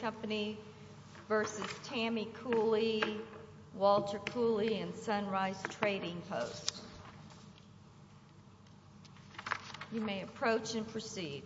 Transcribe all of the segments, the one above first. Company v. Tammy Cooley, Walter Cooley, and Sunrise Trading Post. You may approach and proceed.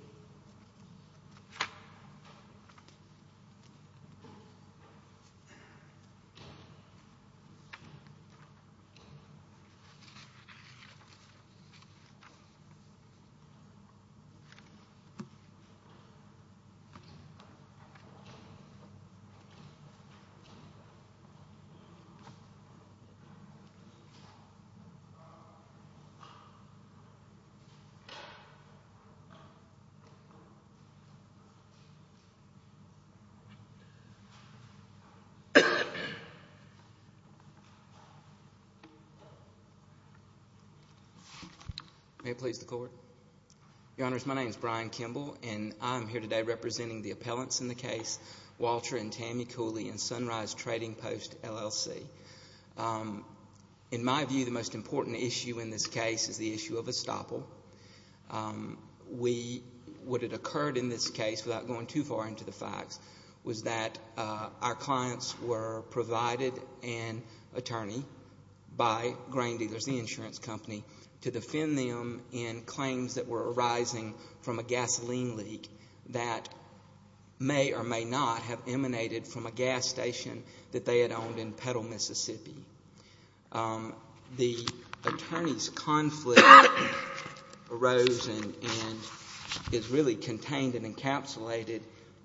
May it please the Court. Your Honors, my name is Brian Kimball, and I am here today representing the appellants in the case, Walter and Tammy Cooley and Sunrise Trading Post, LLC. In my view, the most important issue in this case is the issue of estoppel. What had occurred in this case, without going too far into the facts, was that our clients were provided an attorney by Grain Dealers, the insurance company, to defend them in claims that were arising from a gasoline leak that may or may not have emanated from a gas station that they had owned in Petal, Mississippi. The attorney's conflict arose and is really contained and encapsulated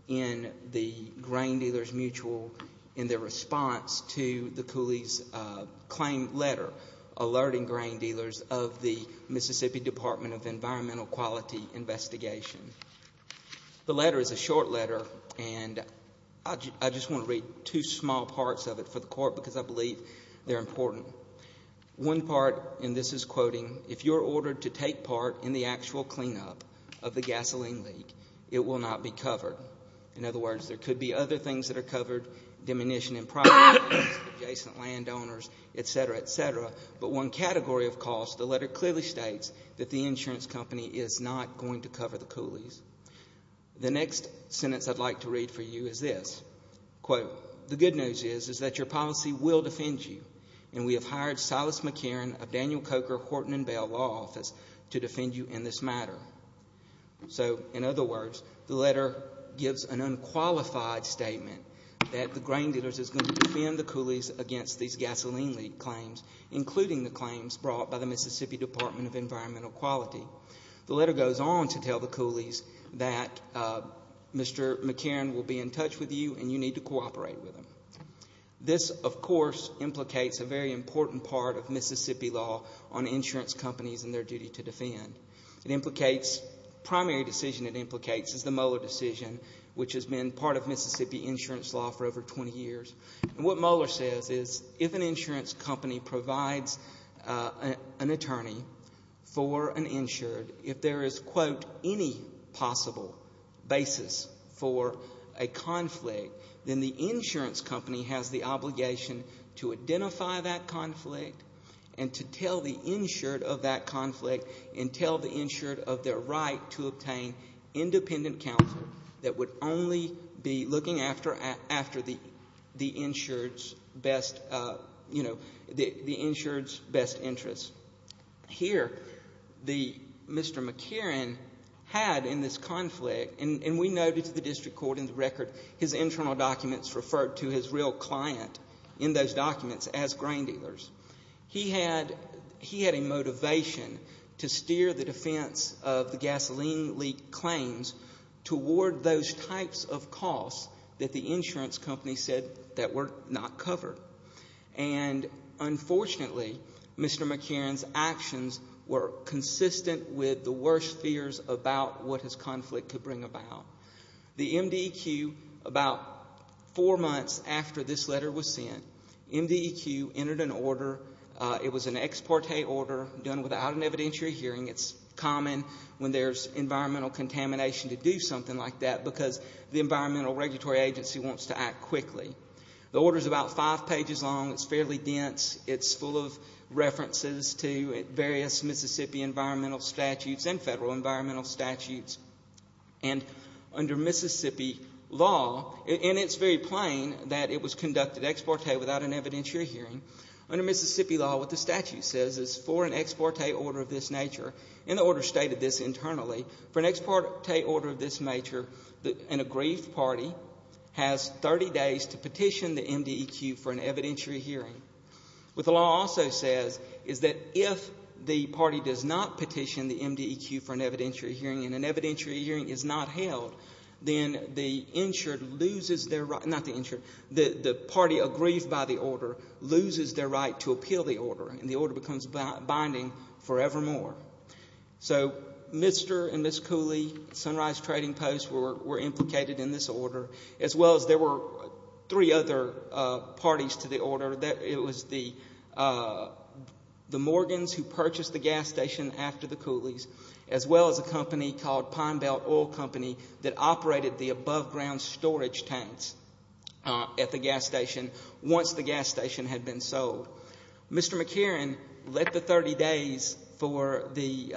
in the Grain Dealers Mutual, in their response to the Cooleys claim letter alerting Grain Dealers of the Mississippi Department of Environmental Quality investigation. The letter is a short letter, and I just want to read two small parts of it for the Court because I believe they're important. One part, and this is quoting, if you're ordered to take part in the actual cleanup of the gasoline leak, it will not be covered. In other words, there could be other things that are covered, diminution in property, adjacent landowners, et cetera, et cetera, but one category of cost, the letter clearly states that the insurance company is not going to cover the Cooleys. The next sentence I'd like to read for you is this, quote, the good news is, is that your policy will defend you, and we have hired Silas McCarron of Daniel Coker Horton and Bell Law Office to defend you in this matter. So, in other words, the letter gives an unqualified statement that the Grain Leak claims, including the claims brought by the Mississippi Department of Environmental Quality. The letter goes on to tell the Cooleys that Mr. McCarron will be in touch with you and you need to cooperate with him. This, of course, implicates a very important part of Mississippi law on insurance companies and their duty to defend. It implicates, primary decision it implicates is the Mueller decision, which has been part of Mississippi insurance law for over 20 years. And what Mueller says is if an insurance company provides an attorney for an insured, if there is, quote, any possible basis for a conflict, then the insurance company has the obligation to identify that conflict and to tell the insured of that conflict and tell the insured of their right to obtain independent counsel that would only be looking after the insured's best, you know, the insured's best interest. Here, Mr. McCarron had in this conflict, and we noted to the district court in the record, his internal documents referred to his real client in those documents as grain dealers. He had a motivation to steer the defense of the gasoline leak claims toward those types of costs that the insurance company said that were not covered. And unfortunately, Mr. McCarron's actions were consistent with the worst fears about what his conflict could bring about. The MDEQ, about four months after this letter was sent, MDEQ entered an order. It was an ex parte order done without an evidentiary hearing. It's common when there's environmental contamination to do something like that because the environmental regulatory agency wants to act quickly. The order's about five pages long. It's fairly dense. It's full of references to various Mississippi environmental statutes and federal environmental statutes. And under Mississippi law, and it's very plain that it was conducted ex parte without an evidentiary hearing, under Mississippi law, what the statute says is for an ex parte order of this nature, and the order stated this internally, for an ex parte order of this nature, an aggrieved party has 30 days to petition the MDEQ for an evidentiary hearing. What the law also says is that if the party does not petition the MDEQ for an evidentiary hearing and an evidentiary hearing is not held, then the insured loses their right, not the insured, the party aggrieved by the order loses their right to appeal the order, and the order becomes binding forevermore. So Mr. and Ms. Cooley, Sunrise Trading Post, were implicated in this order, as well as there were three other parties to the order. It was the Morgans who purchased the gas station after the Cooleys, as well as a company called Pine Belt Oil Company that operated the above ground storage tanks at the gas station once the gas station had been sold. Mr. McCarran let the 30 days for the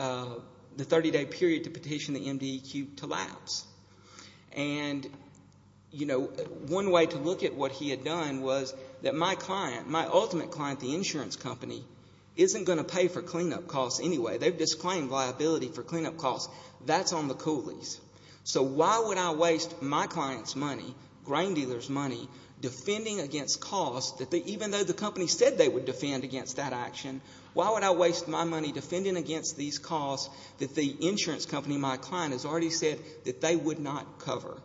30-day period to petition the MDEQ to lapse. And, you know, one way to look at what he had done was that my client, my ultimate client, the insurance company, isn't going to pay for cleanup costs anyway. They've disclaimed liability for cleanup costs. That's on the grain dealer's money, defending against costs that even though the company said they would defend against that action, why would I waste my money defending against these costs that the insurance company, my client, has already said that they would not cover?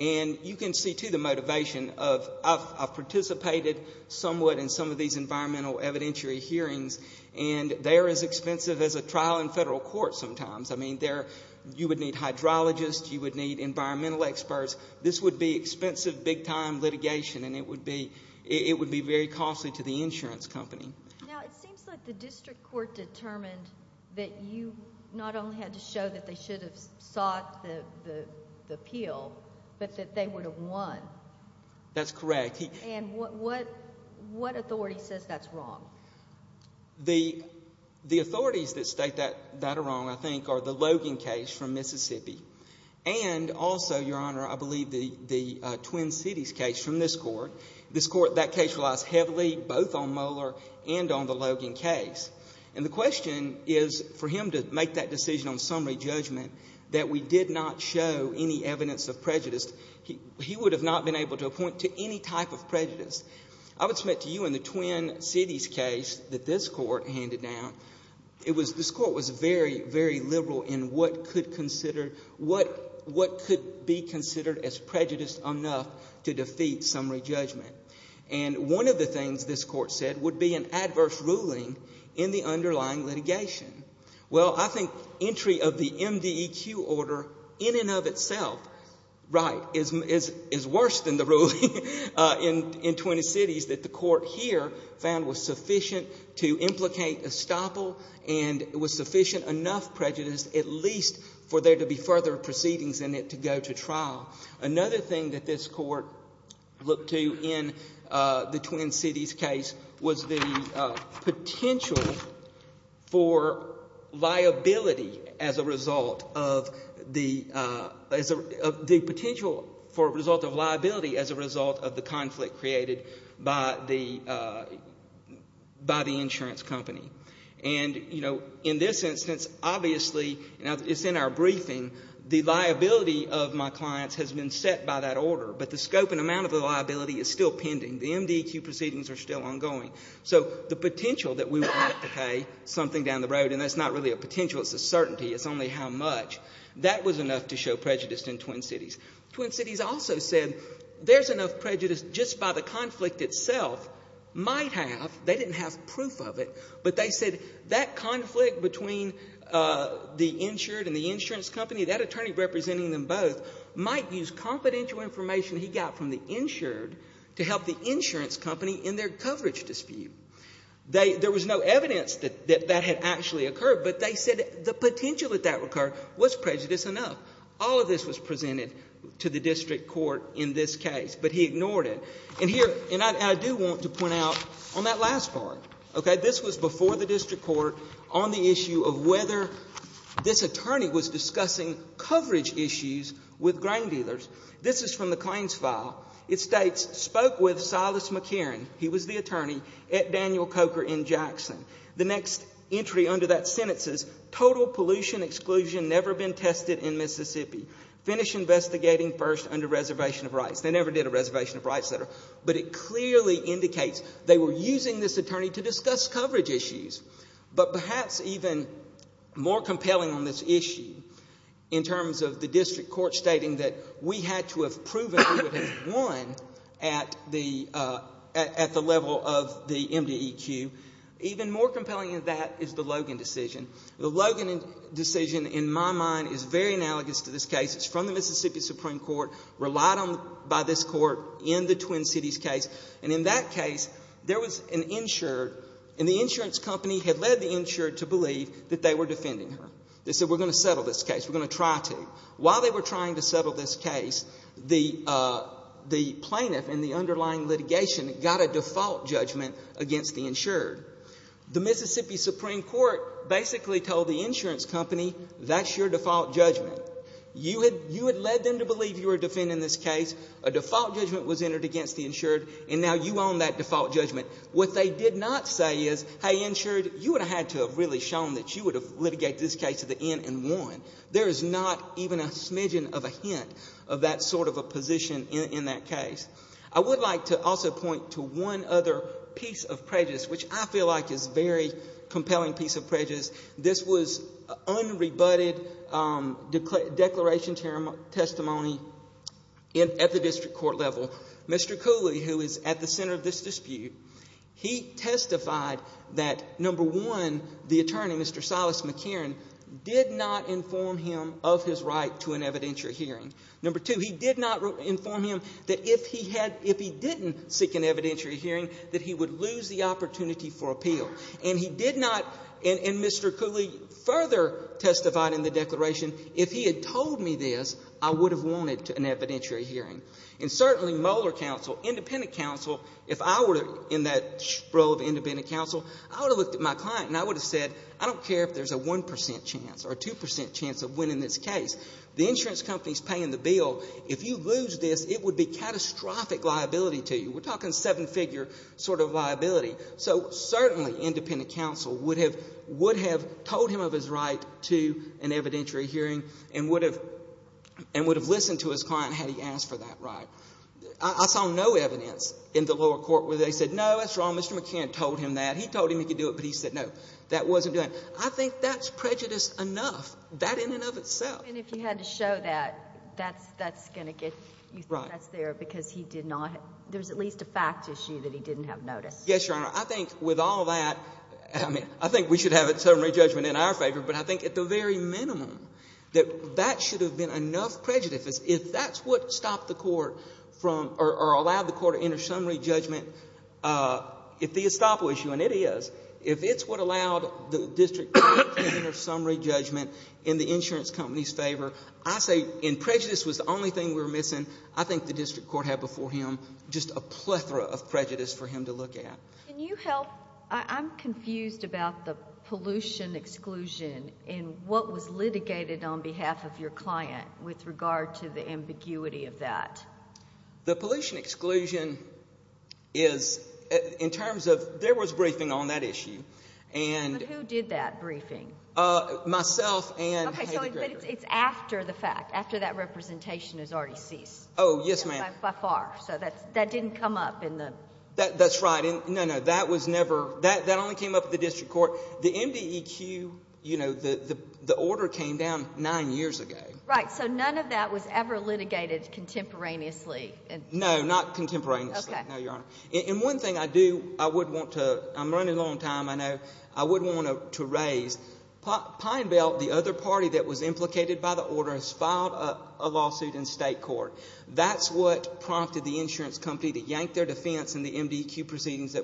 And you can see, too, the motivation of I've participated somewhat in some of these environmental evidentiary hearings, and they're as expensive as a trial in federal court sometimes. I mean, you would need hydrologists. You would need environmental experts. This would be expensive, big-time litigation, and it would be very costly to the insurance company. Now, it seems like the district court determined that you not only had to show that they should have sought the appeal, but that they would have won. That's correct. And what authority says that's wrong? The authorities that state that are wrong, I think, are the Logan case from Mississippi and also, Your Honor, I believe the Twin Cities case from this Court. This Court, that case relies heavily both on Mueller and on the Logan case. And the question is for him to make that decision on summary judgment that we did not show any evidence of prejudice. He would have not been able to appoint to any type of prejudice. I would submit to you in the Twin Cities case that this Court handed down, it was, this Court was very, very liberal in what could consider, what could be considered as prejudice enough to defeat summary judgment. And one of the things this Court said would be an adverse ruling in the underlying litigation. Well, I think entry of the MDEQ order in and of itself, right, is worse than the ruling in Twin Cities that the Court here found was sufficient to implicate estoppel and was sufficient enough prejudice at least for there to be further proceedings in it to go to trial. Another thing that this Court looked to in the Twin Cities case was the potential for result of liability as a result of the conflict created by the, by the insurance company. And, you know, in this instance, obviously, and it's in our briefing, the liability of my clients has been set by that order. But the scope and amount of the liability is still pending. The MDEQ proceedings are still ongoing. So the potential that we would have to pay something down the road, and that's not really a potential, it's a certainty, it's only how much, that was enough to show prejudice in Twin Cities. Twin Cities also said there's enough prejudice just by the conflict itself, might have, they didn't have proof of it, but they said that conflict between the insured and the insurance company, that attorney representing them both, might use confidential information he got from the insured to help the insurance company in their coverage dispute. There was no evidence that that had actually occurred, but they said the potential that that occurred was prejudiced enough. All of this was presented to the district court in this case, but he ignored it. And here, and I do want to point out on that last part, okay, this was before the district court on the issue of whether this attorney was discussing coverage issues with grain dealers. This is from the claims file. It states, spoke with Silas McKeeran, he was the attorney, at Daniel Coker in Jackson. The next entry under that sentence is total pollution exclusion never been tested in Mississippi. Finish investigating first under reservation of rights. They never did a reservation of rights letter, but it clearly indicates they were using this attorney to discuss coverage issues. But perhaps even more compelling on this issue, in terms of the district court stating that we had to have proven we would have won at the level of the MDEQ, even more compelling decision in my mind is very analogous to this case. It's from the Mississippi Supreme Court, relied on by this court in the Twin Cities case. And in that case, there was an insured, and the insurance company had led the insured to believe that they were defending her. They said, we're going to settle this case. We're going to try to. While they were trying to settle this case, the plaintiff in the underlying litigation got a default judgment against the insured. The Mississippi Supreme Court basically told the insurance company, that's your default judgment. You had led them to believe you were defending this case. A default judgment was entered against the insured, and now you own that default judgment. What they did not say is, hey, insured, you would have had to have really shown that you would have litigated this case at the end and won. There is not even a smidgen of a hint of that sort of a position in that case. I would like to also point to one other piece of prejudice, which I feel like is a very compelling piece of prejudice. This was unrebutted declaration testimony at the district court level. Mr. Cooley, who is at the center of this dispute, he testified that, number one, the attorney, Mr. Silas McCarran, did not inform him of his right to an evidentiary hearing. Number two, he did not inform him that if he had, if he didn't seek an evidentiary hearing, that he would lose the opportunity for appeal. And he did not, and Mr. Cooley further testified in the declaration, if he had told me this, I would have wanted an evidentiary hearing. And certainly Mueller counsel, independent counsel, if I were in that role of independent counsel, I would have looked at my client and I would have said, I don't care if there's a 1% chance or a 2% chance of winning this case. The insurance company's in the bill. If you lose this, it would be catastrophic liability to you. We're talking seven-figure sort of liability. So certainly independent counsel would have, would have told him of his right to an evidentiary hearing and would have, and would have listened to his client had he asked for that right. I saw no evidence in the lower court where they said, no, that's wrong, Mr. McCarran told him that. He told him he could do it, but he said no, that wasn't doing it. I think that's prejudice enough, that in and of itself. And if you had to show that, that's, that's going to get, you think that's there because he did not, there's at least a fact issue that he didn't have noticed. Yes, Your Honor. I think with all that, I mean, I think we should have a summary judgment in our favor, but I think at the very minimum that that should have been enough prejudice. If that's what stopped the court from, or allowed the court to enter summary judgment, if the estoppel issue, and it is, if it's what allowed the district court to enter summary judgment in the insurance company's favor, I say, and prejudice was the only thing we were missing, I think the district court had before him just a plethora of prejudice for him to look at. Can you help, I'm confused about the pollution exclusion and what was litigated on behalf of your client with regard to the ambiguity of that. The pollution exclusion is, in terms of, there was briefing on that issue, and But who did that briefing? Myself and Heather Gregory. Okay, so it's after the fact, after that representation has already ceased. Oh, yes ma'am. By far, so that didn't come up in the That's right, no, no, that was never, that only came up at the district court. The MDEQ, you know, the order came down nine years ago. Right, so none of that was ever litigated contemporaneously. No, not contemporaneously, no, Your Honor. And one thing I do, I would want to, I'm running low on time, I know, I would want to raise. Pine Belt, the other party that was implicated by the order, has filed a lawsuit in state court. That's what prompted the insurance company to yank their defense in the MDEQ proceedings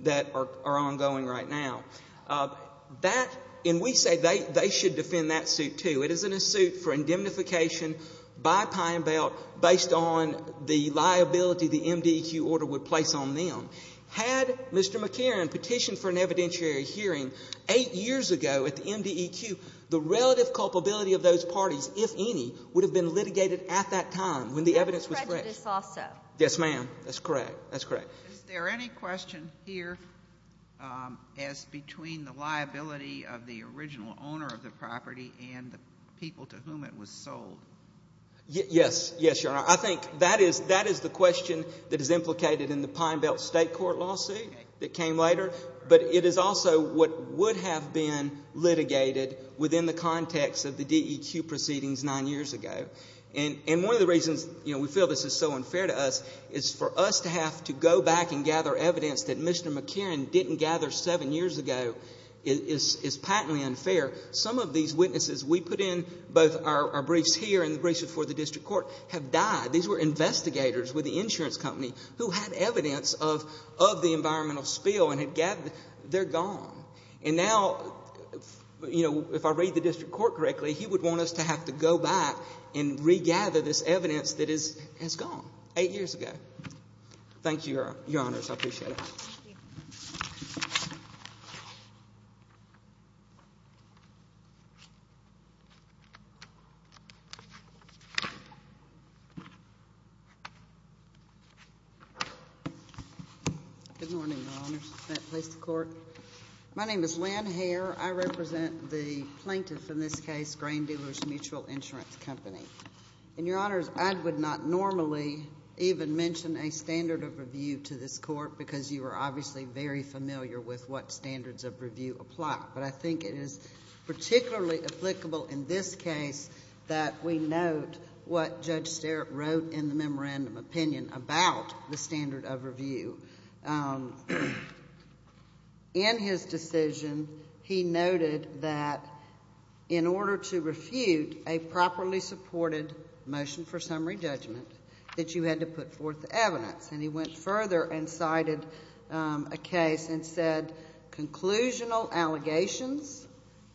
that are ongoing right now. That, and we say they should defend that suit, too. It isn't a suit for indemnification by Pine Belt based on the liability the MDEQ order would place on them. Had Mr. McCarran petitioned for an evidentiary hearing eight years ago at the MDEQ, the relative culpability of those parties, if any, would have been litigated at that time when the evidence was correct. And prejudice also. Yes, ma'am, that's correct, that's correct. Is there any question here as between the liability of the original owner of the property and the people to whom it was sold? Yes, yes, Your Honor. I think that is the question that is implicated in the Pine Belt state court lawsuit that came later. But it is also what would have been litigated within the context of the DEQ proceedings nine years ago. And one of the reasons, you know, we feel this is so unfair to us is for us to have to go back and gather evidence that Mr. McCarran didn't gather seven years ago is patently unfair. Some of these witnesses we put in both our briefs here and the briefs before the district court have died. These were investigators with the insurance company who had evidence of the environmental spill and had gathered it. They're gone. And now, you know, if I read the district court correctly, he would want us to have to go back and regather this evidence that has gone eight years ago. Thank you, Your Honors. I appreciate it. Thank you. Good morning, Your Honors. May it please the Court. My name is Lynn Hare. I represent the plaintiff in this case, Grain Dealers Mutual Insurance Company. And, Your Honors, I would not normally even mention a standard of review to this case because we were obviously very familiar with what standards of review apply. But I think it is particularly applicable in this case that we note what Judge Sterik wrote in the memorandum opinion about the standard of review. In his decision, he noted that in order to refute a properly supported motion for summary judgment that you had to put forth the evidence. And he went further and cited a case and said, Conclusional allegations,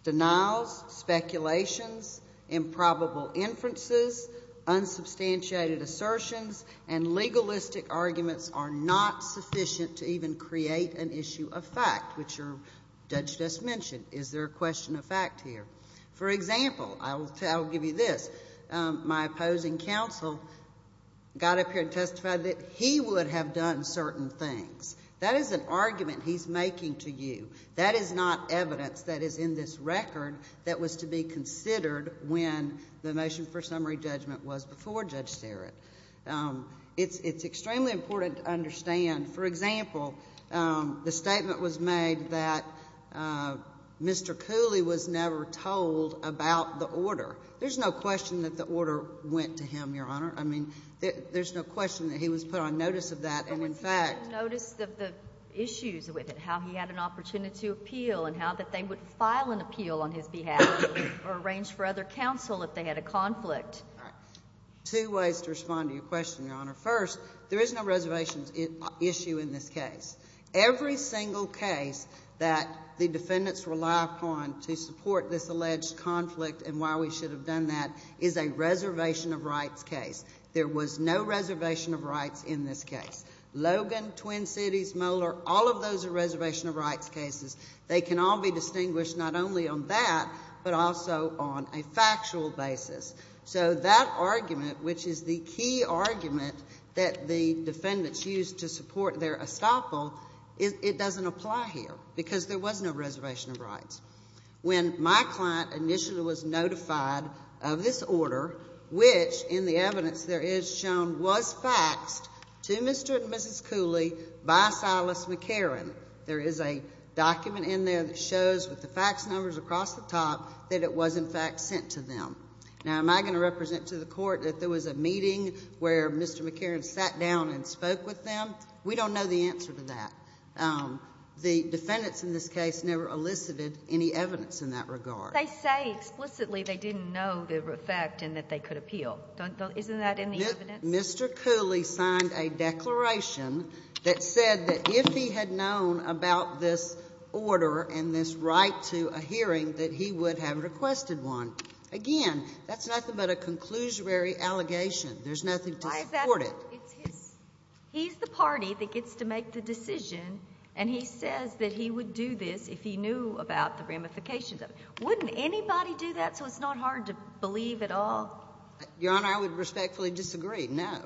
denials, speculations, improbable inferences, unsubstantiated assertions, and legalistic arguments are not sufficient to even create an issue of fact, which Judge just mentioned. Is there a question of fact here? For example, I will give you this. My opposing counsel got up here and testified that he would have done certain things. That is an argument he's making to you. That is not evidence that is in this record that was to be considered when the motion for summary judgment was before Judge Sterik. It's extremely important to understand. For example, the statement was made that Mr. Cooley was never told about the order. There's no question that the order went to him, Your Honor. I mean, there's no question that he was put on notice of that. And in fact. He was put on notice of the issues with it, how he had an opportunity to appeal and how that they would file an appeal on his behalf or arrange for other counsel if they had a conflict. All right. Two ways to respond to your question, Your Honor. First, there is no reservations issue in this case. Every single case that the defendants relied upon to support this alleged conflict and why we should have done that is a reservation of rights case. There was no reservation of rights in this case. Logan, Twin Cities, Moeller, all of those are reservation of rights cases. They can all be distinguished not only on that but also on a factual basis. So that argument, which is the key argument that the defendants used to support their estoppel, it doesn't apply here because there was no reservation of rights. When my client initially was notified of this order, which in the evidence there is shown was faxed to Mr. and Mrs. Cooley by Silas McCarron. There is a document in there that shows with the fax numbers across the top that it was, in fact, sent to them. Now, am I going to represent to the court that there was a meeting where Mr. McCarron sat down and spoke with them? We don't know the answer to that. The defendants in this case never elicited any evidence in that regard. They say explicitly they didn't know the effect and that they could appeal. Isn't that in the evidence? Mr. Cooley signed a declaration that said that if he had known about this order and this right to a hearing that he would have requested one. Again, that's nothing but a conclusory allegation. There's nothing to support it. He's the party that gets to make the decision, and he says that he would do this if he knew about the ramifications of it. Wouldn't anybody do that so it's not hard to believe at all? Your Honor, I would respectfully disagree. No.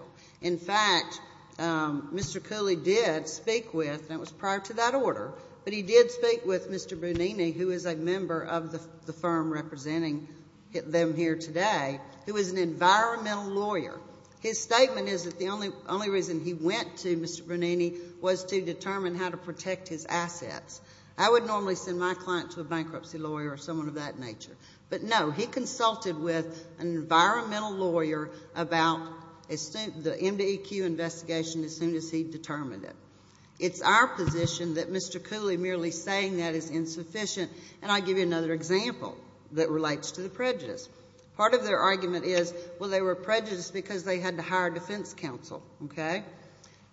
In fact, Mr. Cooley did speak with, and it was prior to that order, but he did speak with Mr. Brunini, who is a member of the firm representing them here today, who is an environmental lawyer. His statement is that the only reason he went to Mr. Brunini was to determine how to protect his assets. I would normally send my client to a bankruptcy lawyer or someone of that nature. But, no, he consulted with an environmental lawyer about the MDEQ investigation as soon as he determined it. It's our position that Mr. Cooley merely saying that is insufficient, and I'll give you another example that relates to the prejudice. Part of their argument is, well, they were prejudiced because they had to hire defense counsel. Okay?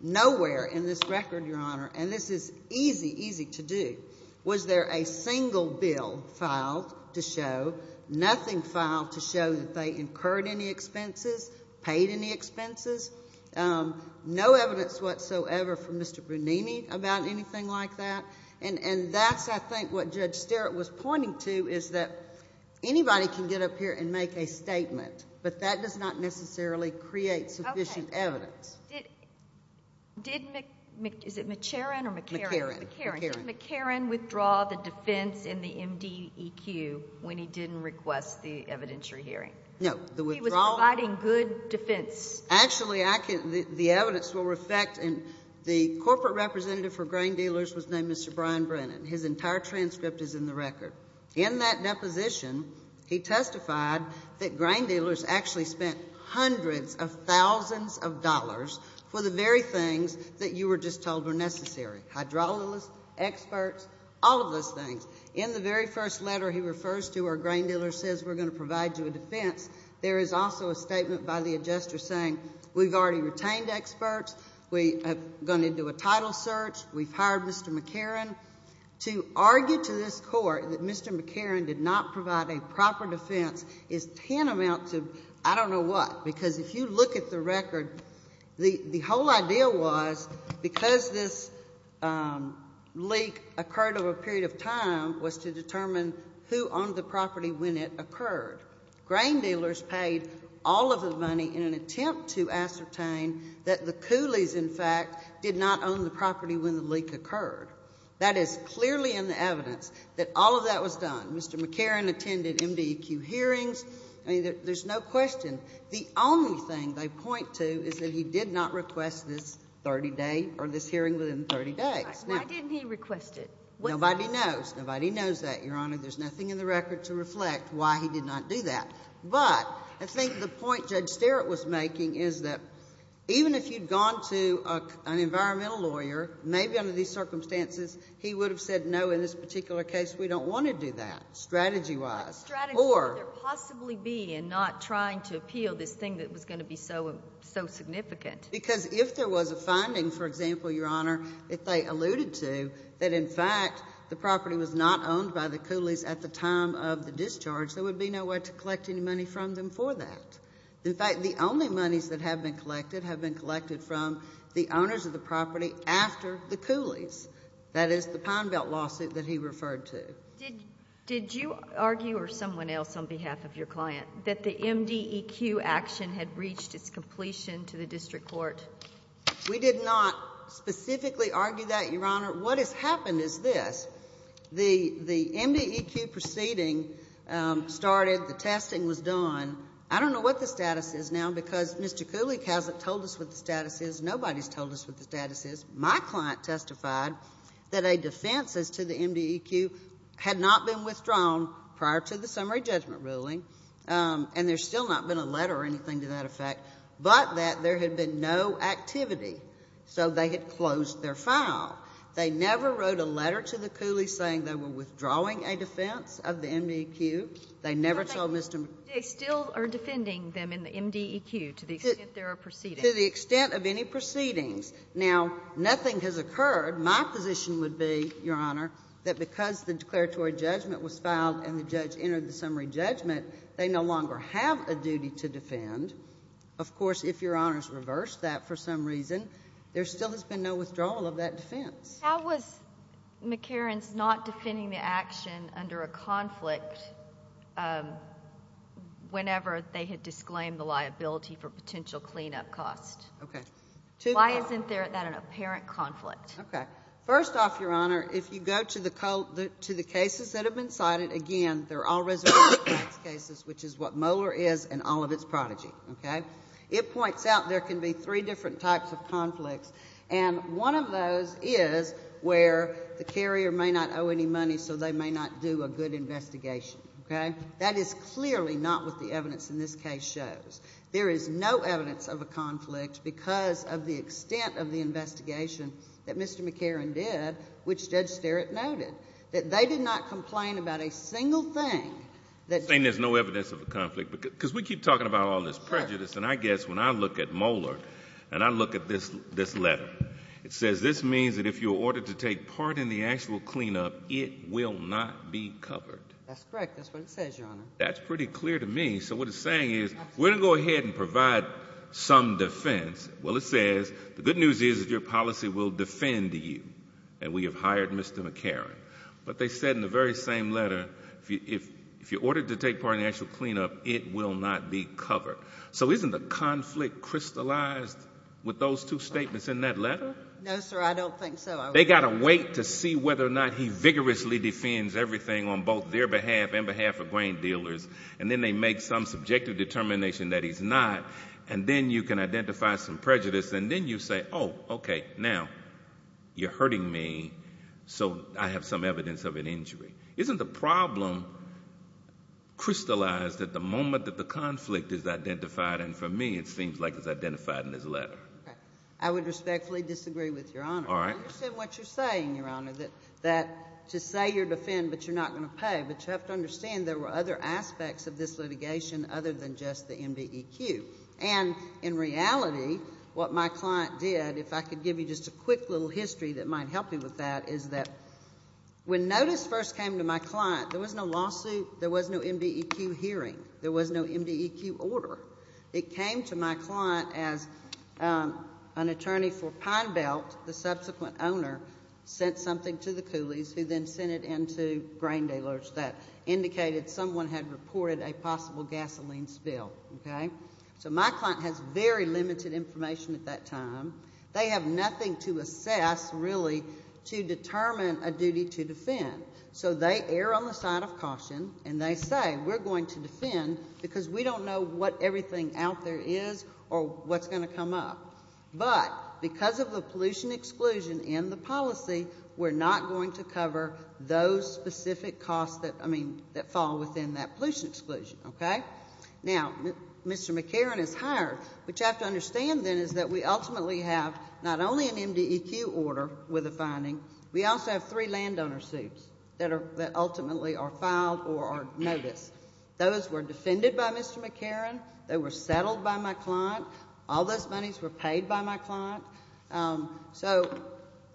Nowhere in this record, Your Honor, and this is easy, easy to do, was there a single bill filed to show, nothing filed to show that they incurred any expenses, paid any expenses, no evidence whatsoever from Mr. Brunini about anything like that. And that's, I think, what Judge Sterritt was pointing to is that anybody can get up here and make a statement, but that does not necessarily create sufficient evidence. Okay. Did, is it McCarron or McCarron? McCarron. McCarron. Did McCarron withdraw the defense in the MDEQ when he didn't request the evidentiary hearing? No. He was providing good defense. Actually, I can, the evidence will reflect, and the corporate representative for grain dealers was named Mr. Brian Brennan. His entire transcript is in the record. In that deposition, he testified that grain dealers actually spent hundreds of thousands of dollars for the very things that you were just told were necessary. Hydraulics, experts, all of those things. In the very first letter he refers to where a grain dealer says, we're going to provide you a defense, there is also a statement by the adjuster saying, we've already retained experts, we are going to do a title search, we've hired Mr. McCarron. To argue to this court that Mr. McCarron did not provide a proper defense is tantamount to, I don't know what, because if you look at the record, the whole idea was, because this leak occurred over a period of time, was to determine who owned the property when it occurred. Grain dealers paid all of the money in an attempt to ascertain that the owner owned the property when the leak occurred. That is clearly in the evidence that all of that was done. Mr. McCarron attended MDQ hearings. There's no question. The only thing they point to is that he did not request this 30-day or this hearing within 30 days. Why didn't he request it? Nobody knows. Nobody knows that, Your Honor. There's nothing in the record to reflect why he did not do that. But I think the point Judge Sterritt was making is that even if you'd gone to an environmental lawyer, maybe under these circumstances, he would have said no, in this particular case, we don't want to do that, strategy-wise. What strategy could there possibly be in not trying to appeal this thing that was going to be so significant? Because if there was a finding, for example, Your Honor, if they alluded to that, in fact, the property was not owned by the Cooleys at the time of the discharge, there would be no way to collect any money from them for that. In fact, the only monies that have been collected have been collected from the owners of the property after the Cooleys. That is the Pine Belt lawsuit that he referred to. Did you argue, or someone else on behalf of your client, that the MDEQ action had reached its completion to the district court? We did not specifically argue that, Your Honor. What has happened is this. The MDEQ proceeding started. The testing was done. I don't know what the status is now because Mr. Cooley hasn't told us what the status is. Nobody's told us what the status is. My client testified that a defense as to the MDEQ had not been withdrawn prior to the summary judgment ruling, and there's still not been a letter or anything to that effect, but that there had been no activity. So they had closed their file. They never wrote a letter to the Cooleys saying they were withdrawing a defense of the MDEQ. They never told Mr. McCarran. They still are defending them in the MDEQ to the extent there are proceedings. To the extent of any proceedings. Now, nothing has occurred. My position would be, Your Honor, that because the declaratory judgment was filed and the judge entered the summary judgment, they no longer have a duty to defend. Of course, if Your Honor's reversed that for some reason, there still has been no withdrawal of that defense. How was McCarran's not defending the action under a conflict whenever they had disclaimed the liability for potential cleanup costs? Okay. Why isn't that an apparent conflict? Okay. First off, Your Honor, if you go to the cases that have been cited, again, they're all residential tax cases, which is what Moeller is and all of its prodigy. Okay? It points out there can be three different types of conflicts, and one of those is where the carrier may not owe any money, so they may not do a good investigation. Okay? That is clearly not what the evidence in this case shows. There is no evidence of a conflict because of the extent of the investigation that Mr. McCarran did, which Judge Sterrett noted, that they did not complain about a single thing. Saying there's no evidence of a conflict, because we keep talking about all this prejudice, and I guess when I look at Moeller, and I look at this letter, it says, this means that if you're ordered to take part in the actual cleanup, it will not be covered. That's correct. That's what it says, Your Honor. That's pretty clear to me. So what it's saying is, we're going to go ahead and provide some defense. Well, it says, the good news is that your policy will defend you, and we have hired Mr. McCarran. But they said in the very same letter, if you're ordered to take part in the actual cleanup, it will not be covered. So isn't the conflict crystallized with those two statements in that letter? No, sir, I don't think so. They've got to wait to see whether or not he vigorously defends everything on both their behalf and behalf of grain dealers, and then they make some subjective determination that he's not, and then you can identify some prejudice, and then you say, oh, okay, now, you're hurting me, so I have some evidence of an injury. Isn't the problem crystallized at the moment that the conflict is identified, and for me, it seems like it's identified in this letter? I would respectfully disagree with Your Honor. All right. I understand what you're saying, Your Honor, that to say you're defending, but you're not going to pay. But you have to understand there were other aspects of this litigation other than just the MBEQ. And in reality, what my client did, if I could give you just a quick little history that might help you with that, is that when notice first came to my client, there was no lawsuit, there was no MBEQ hearing, there was no MBEQ order. It came to my client as an attorney for Pine Belt, the subsequent owner sent something to the Cooleys who then sent it in to grain dealers that indicated someone had reported a possible gasoline spill. Okay? So my client has very limited information at that time. They have nothing to assess, really, to determine a duty to defend. So they err on the side of caution and they say, we're going to defend because we don't know what everything out there is or what's going to come up. But because of the pollution exclusion in the policy, we're not going to cover those specific costs that, I mean, that fall within that pollution exclusion. Okay? Now, Mr. McCarron is hired. What you have to understand then is that we ultimately have not only an that ultimately are filed or are noticed. Those were defended by Mr. McCarron. They were settled by my client. All those monies were paid by my client. So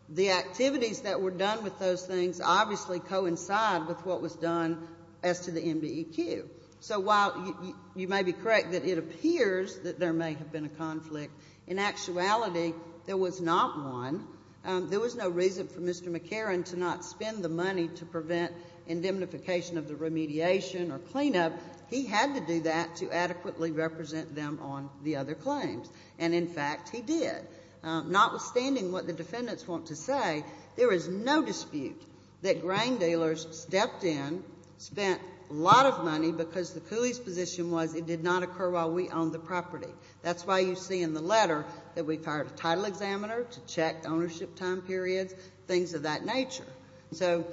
the activities that were done with those things obviously coincide with what was done as to the MBEQ. So while you may be correct that it appears that there may have been a conflict, in actuality, there was not one. There was no reason for Mr. McCarron to not spend the money to prevent indemnification of the remediation or cleanup. He had to do that to adequately represent them on the other claims. And, in fact, he did. Notwithstanding what the defendants want to say, there is no dispute that grain dealers stepped in, spent a lot of money because the Cooley's position was it did not occur while we owned the property. That's why you see in the letter that we've hired a title examiner to check ownership time periods, things of that nature. So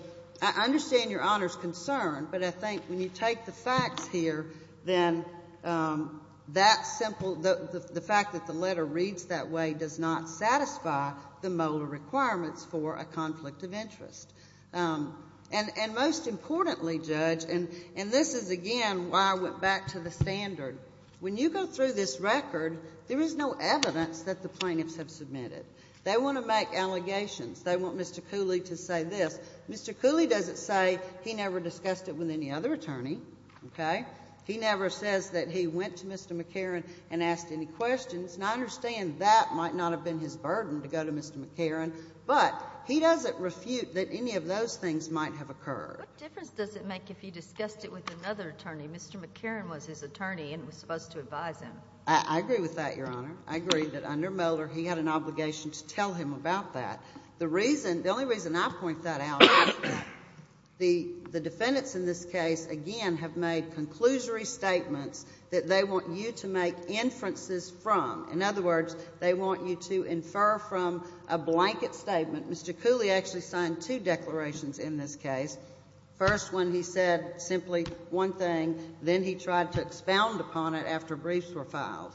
I understand Your Honor's concern, but I think when you take the facts here, then that simple, the fact that the letter reads that way does not satisfy the molar requirements for a conflict of interest. And most importantly, Judge, and this is, again, why I went back to the record, there is no evidence that the plaintiffs have submitted. They want to make allegations. They want Mr. Cooley to say this. Mr. Cooley doesn't say he never discussed it with any other attorney, okay? He never says that he went to Mr. McCarron and asked any questions. And I understand that might not have been his burden to go to Mr. McCarron, but he doesn't refute that any of those things might have occurred. What difference does it make if he discussed it with another attorney? Mr. McCarron was his attorney and was supposed to advise him. I agree with that, Your Honor. I agree that under Mulder, he had an obligation to tell him about that. The reason, the only reason I point that out, the defendants in this case, again, have made conclusory statements that they want you to make inferences from. In other words, they want you to infer from a blanket statement. Mr. Cooley actually signed two declarations in this case. First, when he said simply one thing, then he tried to expound upon it after briefs were filed.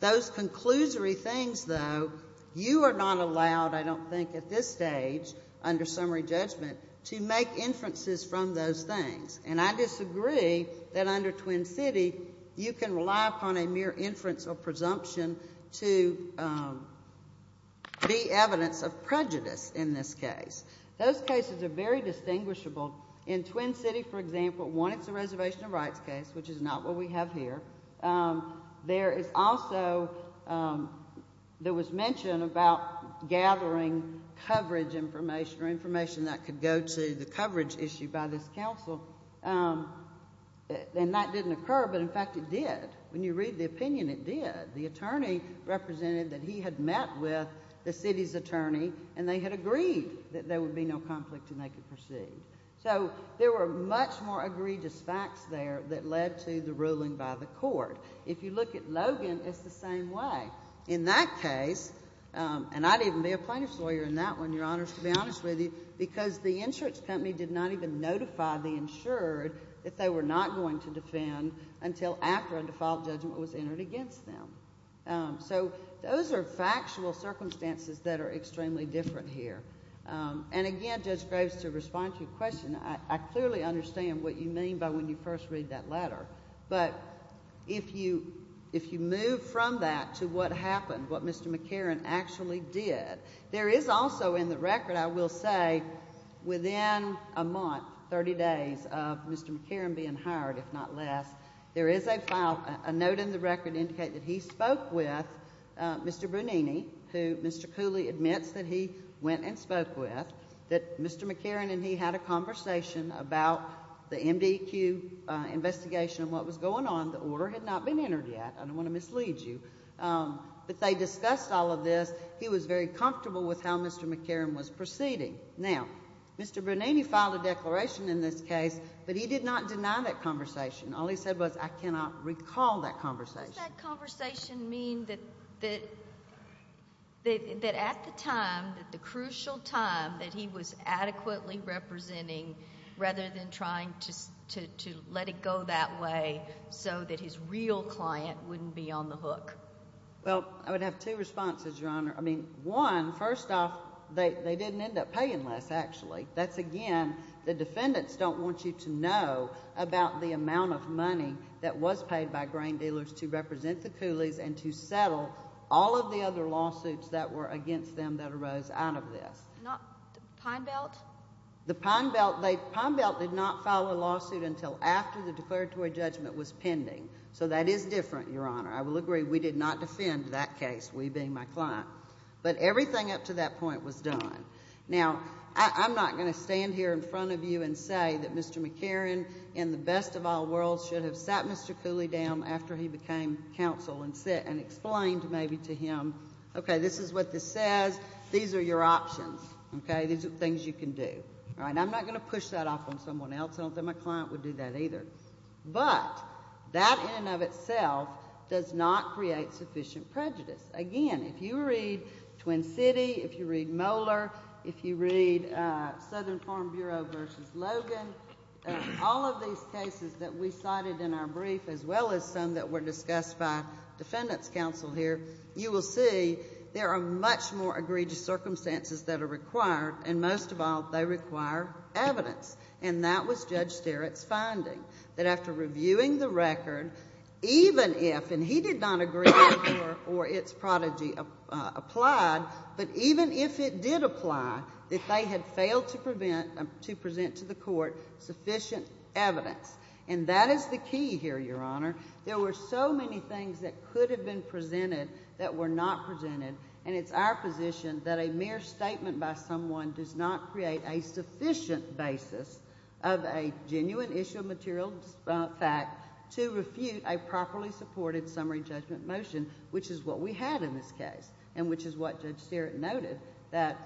Those conclusory things, though, you are not allowed, I don't think, at this stage, under summary judgment, to make inferences from those things. And I disagree that under Twin City, you can rely upon a mere inference or presumption to be evidence of prejudice in this case. Those cases are very distinguishable. In Twin City, for example, one, it's a reservation of rights case, which is not what we have here. There is also, there was mention about gathering coverage information or information that could go to the coverage issue by this counsel. And that didn't occur, but, in fact, it did. When you read the opinion, it did. The attorney represented that he had met with the city's attorney and they had agreed that there would be no conflict and they could proceed. So there were much more egregious facts there that led to the ruling by the court. If you look at Logan, it's the same way. In that case, and I'd even be a plaintiff's lawyer in that one, Your Honors, to be honest with you, because the insurance company did not even notify the insured that they were not going to defend until after a default judgment was entered against them. So those are factual circumstances that are extremely different here. And, again, Judge Graves, to respond to your question, I clearly understand what you mean by when you first read that letter. But if you move from that to what happened, what Mr. McCarran actually did, there is also in the record, I will say, within a month, 30 days, of Mr. McCarran being hired, if not less, there is a note in the record indicating that he spoke with Mr. Brunini, who Mr. Cooley admits that he went and spoke with, that Mr. McCarran and he had a conversation about the MDQ investigation and what was going on. The order had not been entered yet. I don't want to mislead you. But they discussed all of this. He was very comfortable with how Mr. McCarran was proceeding. Now, Mr. Brunini filed a declaration in this case, but he did not deny that conversation. All he said was, I cannot recall that conversation. Does that conversation mean that at the time, the crucial time, that he was adequately representing rather than trying to let it go that way so that his real client wouldn't be on the hook? Well, I would have two responses, Your Honor. I mean, one, first off, they didn't end up paying less, actually. That's again, the defendants don't want you to know about the amount of money that was paid by grain dealers to represent the Cooleys and to settle all of the other lawsuits that were against them that arose out of this. Not the Pine Belt? The Pine Belt. The Pine Belt did not file a lawsuit until after the declaratory judgment was pending. So that is different, Your Honor. I will agree we did not defend that case, we being my client. But everything up to that point was done. Now, I'm not going to stand here in front of you and say that Mr. McCarran, in the best of all worlds, should have sat Mr. Cooley down after he became counsel and explained maybe to him, okay, this is what this says, these are your options. These are things you can do. I'm not going to push that off on someone else. I don't think my client would do that either. But that in and of itself does not create sufficient prejudice. Again, if you read Twin City, if you read Moeller, if you read Southern Farm Bureau v. Logan, all of these cases that we cited in our brief, as well as some that were discussed by defendants' counsel here, you will see there are much more egregious circumstances that are required, and most of all, they require evidence. And that was Judge Sterritt's finding, that after reviewing the record, even if, and he did not agree, or its prodigy applied, but even if it did apply, that they had failed to present to the court sufficient evidence. And that is the key here, Your Honor. There were so many things that could have been presented that were not presented, and it's our position that a mere statement by someone does not create a sufficient basis of a genuine issue of material fact to refute a properly supported summary judgment motion, which is what we had in this case, and which is what Judge Sterritt noted, that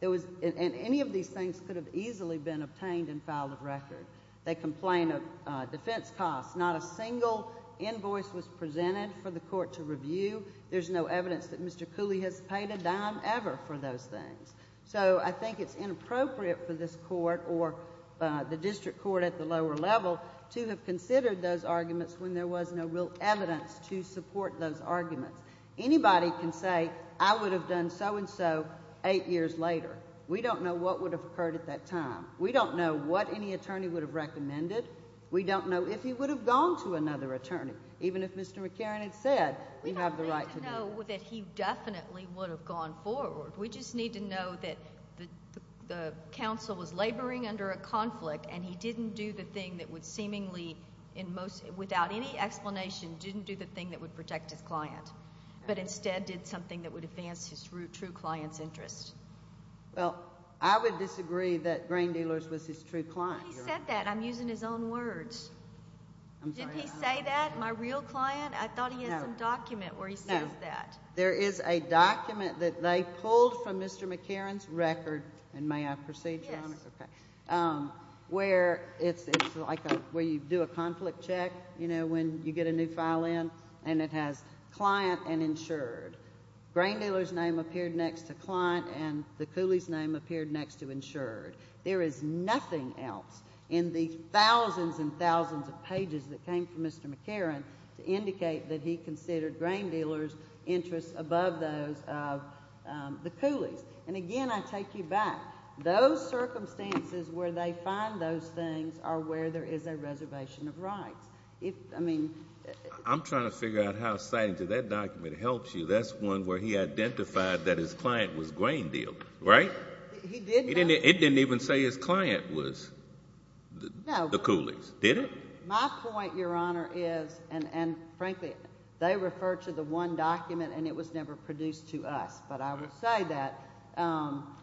there was, and any of these things could have easily been obtained and filed a record. They complain of defense costs. Not a single invoice was presented for the court to review. There's no evidence that Mr. Cooley has paid a dime ever for those things. So I think it's inappropriate for this court or the district court at the lower level to have considered those arguments when there was no real evidence to support those arguments. Anybody can say, I would have done so-and-so eight years later. We don't know what would have occurred at that time. We don't know what any attorney would have recommended. We don't know if he would have gone to another attorney, even if Mr. McCarran had said, you have the right to do that. We don't need to know that he definitely would have gone forward. We just need to know that the counsel was laboring under a conflict and he didn't do the thing that would seemingly, without any explanation, didn't do the thing that would protect his client, but instead did something that would advance his true client's interest. Well, I would disagree that Grain Dealers was his true client. He said that. I'm using his own words. Didn't he say that? My real client? I thought he had some document where he says that. There is a document that they pulled from Mr. McCarran's record, and may I proceed, Your Honor? Yes. Where you do a conflict check when you get a new file in and it has client and insured. Grain Dealers' name appeared next to client and the Cooley's name appeared next to insured. There is nothing else in the thousands and thousands of pages that came from Mr. McCarran to indicate that he considered Grain Dealers' interests above those of the Cooley's. And again, I take you back. Those circumstances where they find those things are where there is a reservation of rights. I'm trying to figure out how citing to that document helps you. That's one where he identified that his client was Grain Dealers. Right? It didn't even say his client was the Cooley's. Did it? My point, Your Honor, is, and frankly, they refer to the one document and it was never produced to us. But I would say that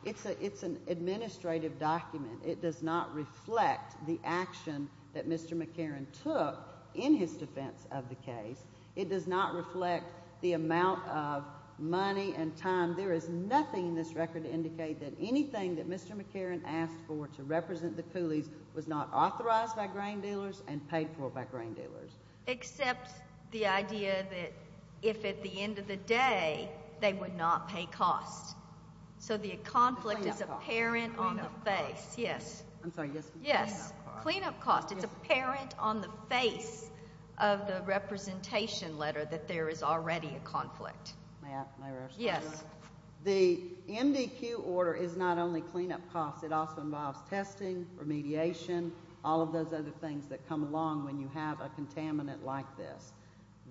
it's an administrative document. It does not reflect the action that Mr. McCarran took in his defense of the case. It does not reflect the amount of money and time. There is nothing in this record to indicate that anything that Mr. McCarran asked for to represent the Cooley's was not authorized by Grain Dealers and paid for by Grain Dealers. Except the idea that if at the end of the day they would not pay costs. So the conflict is apparent on the face. Yes. Cleanup costs. It's apparent on the face of the representation letter that there is already a conflict. Yes. The MDQ order is not only cleanup costs, it also involves testing, remediation, all of those other things that come along when you have a contaminant like this.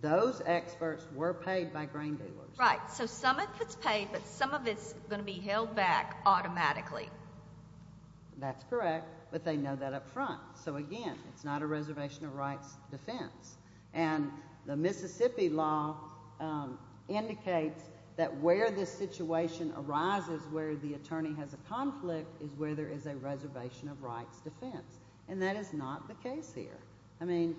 Those experts were paid by Grain Dealers. Right. So some of it's paid but some of it's going to be held back automatically. That's correct. But they know that up front. So again, it's not a reservation of rights defense. And the Mississippi law indicates that where this situation arises where the attorney has a conflict is where there is a reservation of rights defense. And that is not the case here. I mean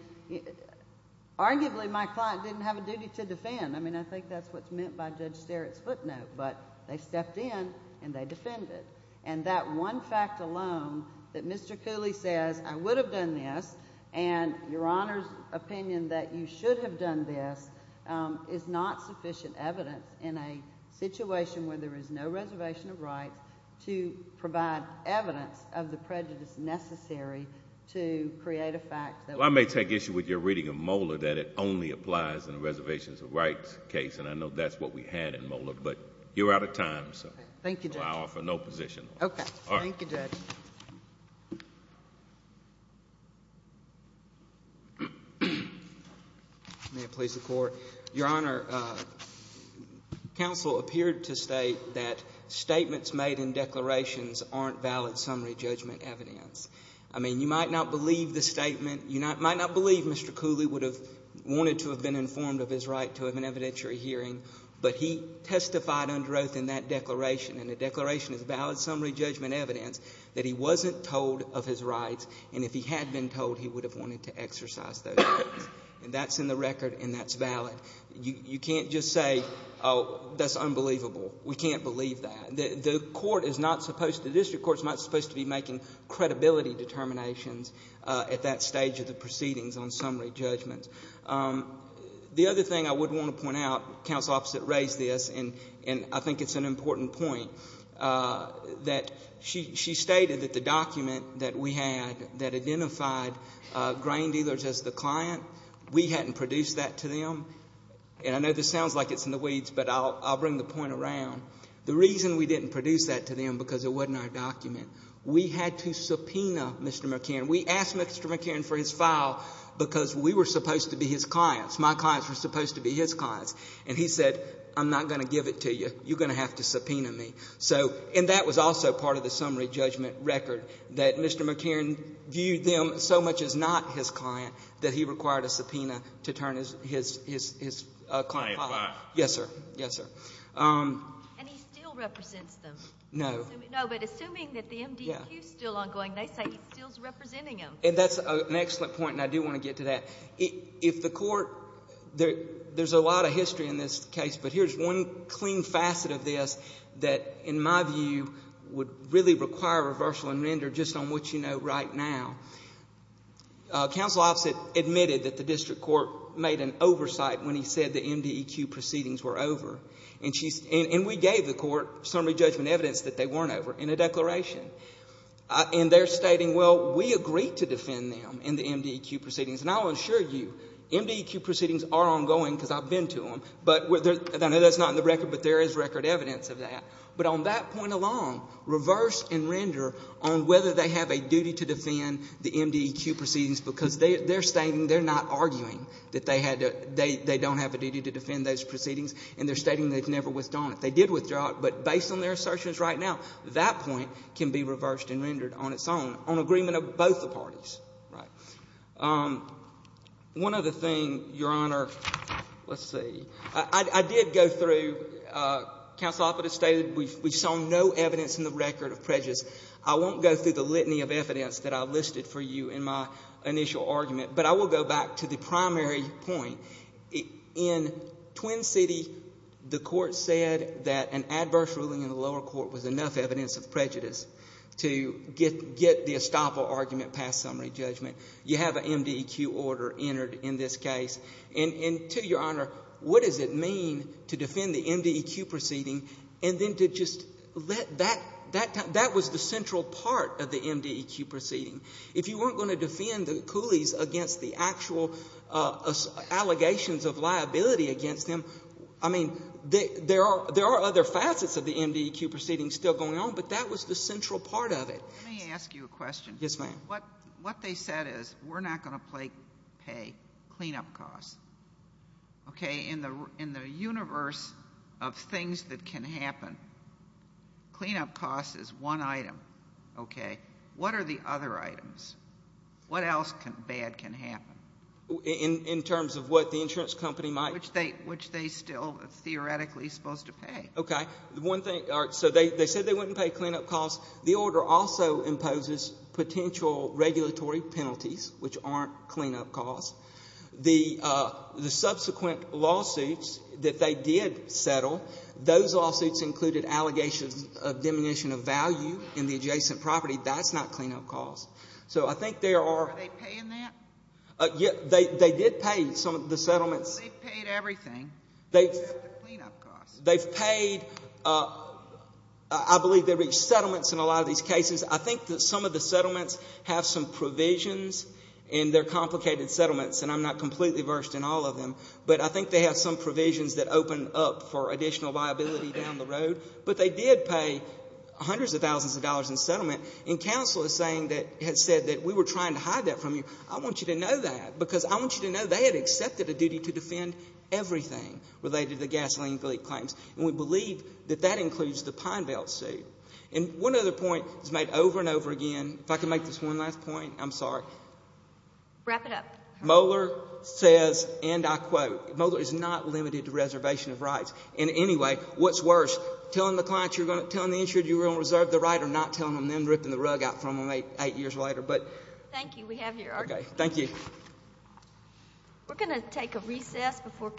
arguably my client didn't have a duty to defend. I mean I think that's what's meant by Judge Starrett's footnote. But they stepped in and they defended. And that one fact alone that Mr. Cooley says I would have done this and your Honor's opinion that you should have done this is not sufficient evidence in a situation where there is no reservation of rights to provide evidence of the prejudice necessary to create a fact. Well I may take issue with your reading of MOLA that it only applies in a reservation of rights case. And I know that's what we had in MOLA. But you're out of time. So I offer no position. Your Honor counsel appeared to state that statements made in declarations aren't valid summary judgment evidence. I mean you might not believe the statement. You might not believe Mr. Cooley would have wanted to have been hearing. But he testified under oath in that declaration. And the declaration is valid summary judgment evidence that he wasn't told of his rights and if he had been told he would have wanted to exercise those rights. And that's in the record and that's valid. You can't just say that's unbelievable. We can't believe that. The court is not supposed the district court is not supposed to be making credibility determinations at that stage of the proceedings on summary judgments. The other thing I would want to point out counsel opposite raised this and I think it's an important point that she stated that the document that we had that identified grain dealers as the client we hadn't produced that to them and I know this sounds like it's in the weeds but I'll bring the point around the reason we didn't produce that to them because it wasn't our document we had to subpoena Mr. McCann we asked Mr. McCann for his file because we were supposed to be his clients my clients were supposed to be his clients and he said I'm not going to give it to you. You're going to have to subpoena me so and that was also part of the summary judgment record that Mr. McCann viewed them so much as not his client that he required a subpoena to turn his client. Yes sir. Yes sir. And he still represents them. No but assuming that the MDQ is still ongoing they say he's still representing them. And that's an excellent point and I do want to get to that. If the court there's a lot of history in this case but here's one clean facet of this that in my view would really require a reversal and render just on what you know right now council officer admitted that the district court made an oversight when he said the MDQ proceedings were over and we gave the court summary judgment evidence that they weren't over in a declaration and they're stating well we agreed to defend them in the MDQ proceedings and I'll assure you MDQ proceedings are ongoing because I've been to them but I know that's not in the record but there is record evidence of that but on that point along reverse and render on whether they have a duty to defend the MDQ proceedings because they're stating they're not arguing that they had they don't have a duty to defend those proceedings and they're stating they've never withdrawn it. They did withdraw it but based on their assertions right now that point can be reversed and rendered on its own on agreement of both the parties one other thing your honor let's see I did go through council officer stated we saw no evidence in the record of prejudice I won't go through the litany of evidence that I listed for you in my initial argument but I will go back to the primary point in Twin City the court said that an adverse ruling in the lower court was enough evidence of prejudice to get the estoppel argument passed summary judgment you have a MDQ order entered in this case and to your honor what does it mean to defend the MDQ proceeding and then to just let that that was the central part of the MDQ proceeding if you weren't going to defend the Cooleys against the actual allegations of liability against them I mean there are other facets of the MDQ proceeding still going on but that was the central part of it let me ask you a question what they said is we're not going to pay clean up costs in the universe of things that can happen clean up costs is one item what are the other items what else bad can happen in terms of what the insurance company might which they still theoretically supposed to pay they said they wouldn't pay clean up costs the order also imposes potential regulatory penalties which aren't clean up costs the subsequent lawsuits that they did settle those lawsuits included allegations of diminution of value in the adjacent property that's not clean up costs are they paying that they did pay some of the settlements they've paid I believe they reached settlements in a lot of these cases I think some of the settlements have some provisions in their complicated settlements and I'm not completely versed in all of them but I think they have some provisions that open up for additional viability down the road but they did pay hundreds of thousands of dollars in settlement and counsel is saying that we were trying to hide that from you I want you to know that because I want you to know they had accepted a duty to defend everything related to gasoline leak claims and we believe that that includes the Pine Belt suit and one other point is made over and over again if I can make this one last point I'm sorry Moeller says and I quote Moeller is not limited to reservation of rights and anyway what's worse telling the insurance you're going to reserve the right or not telling them then ripping the rug out from them eight years later Thank you We're going to take a recess before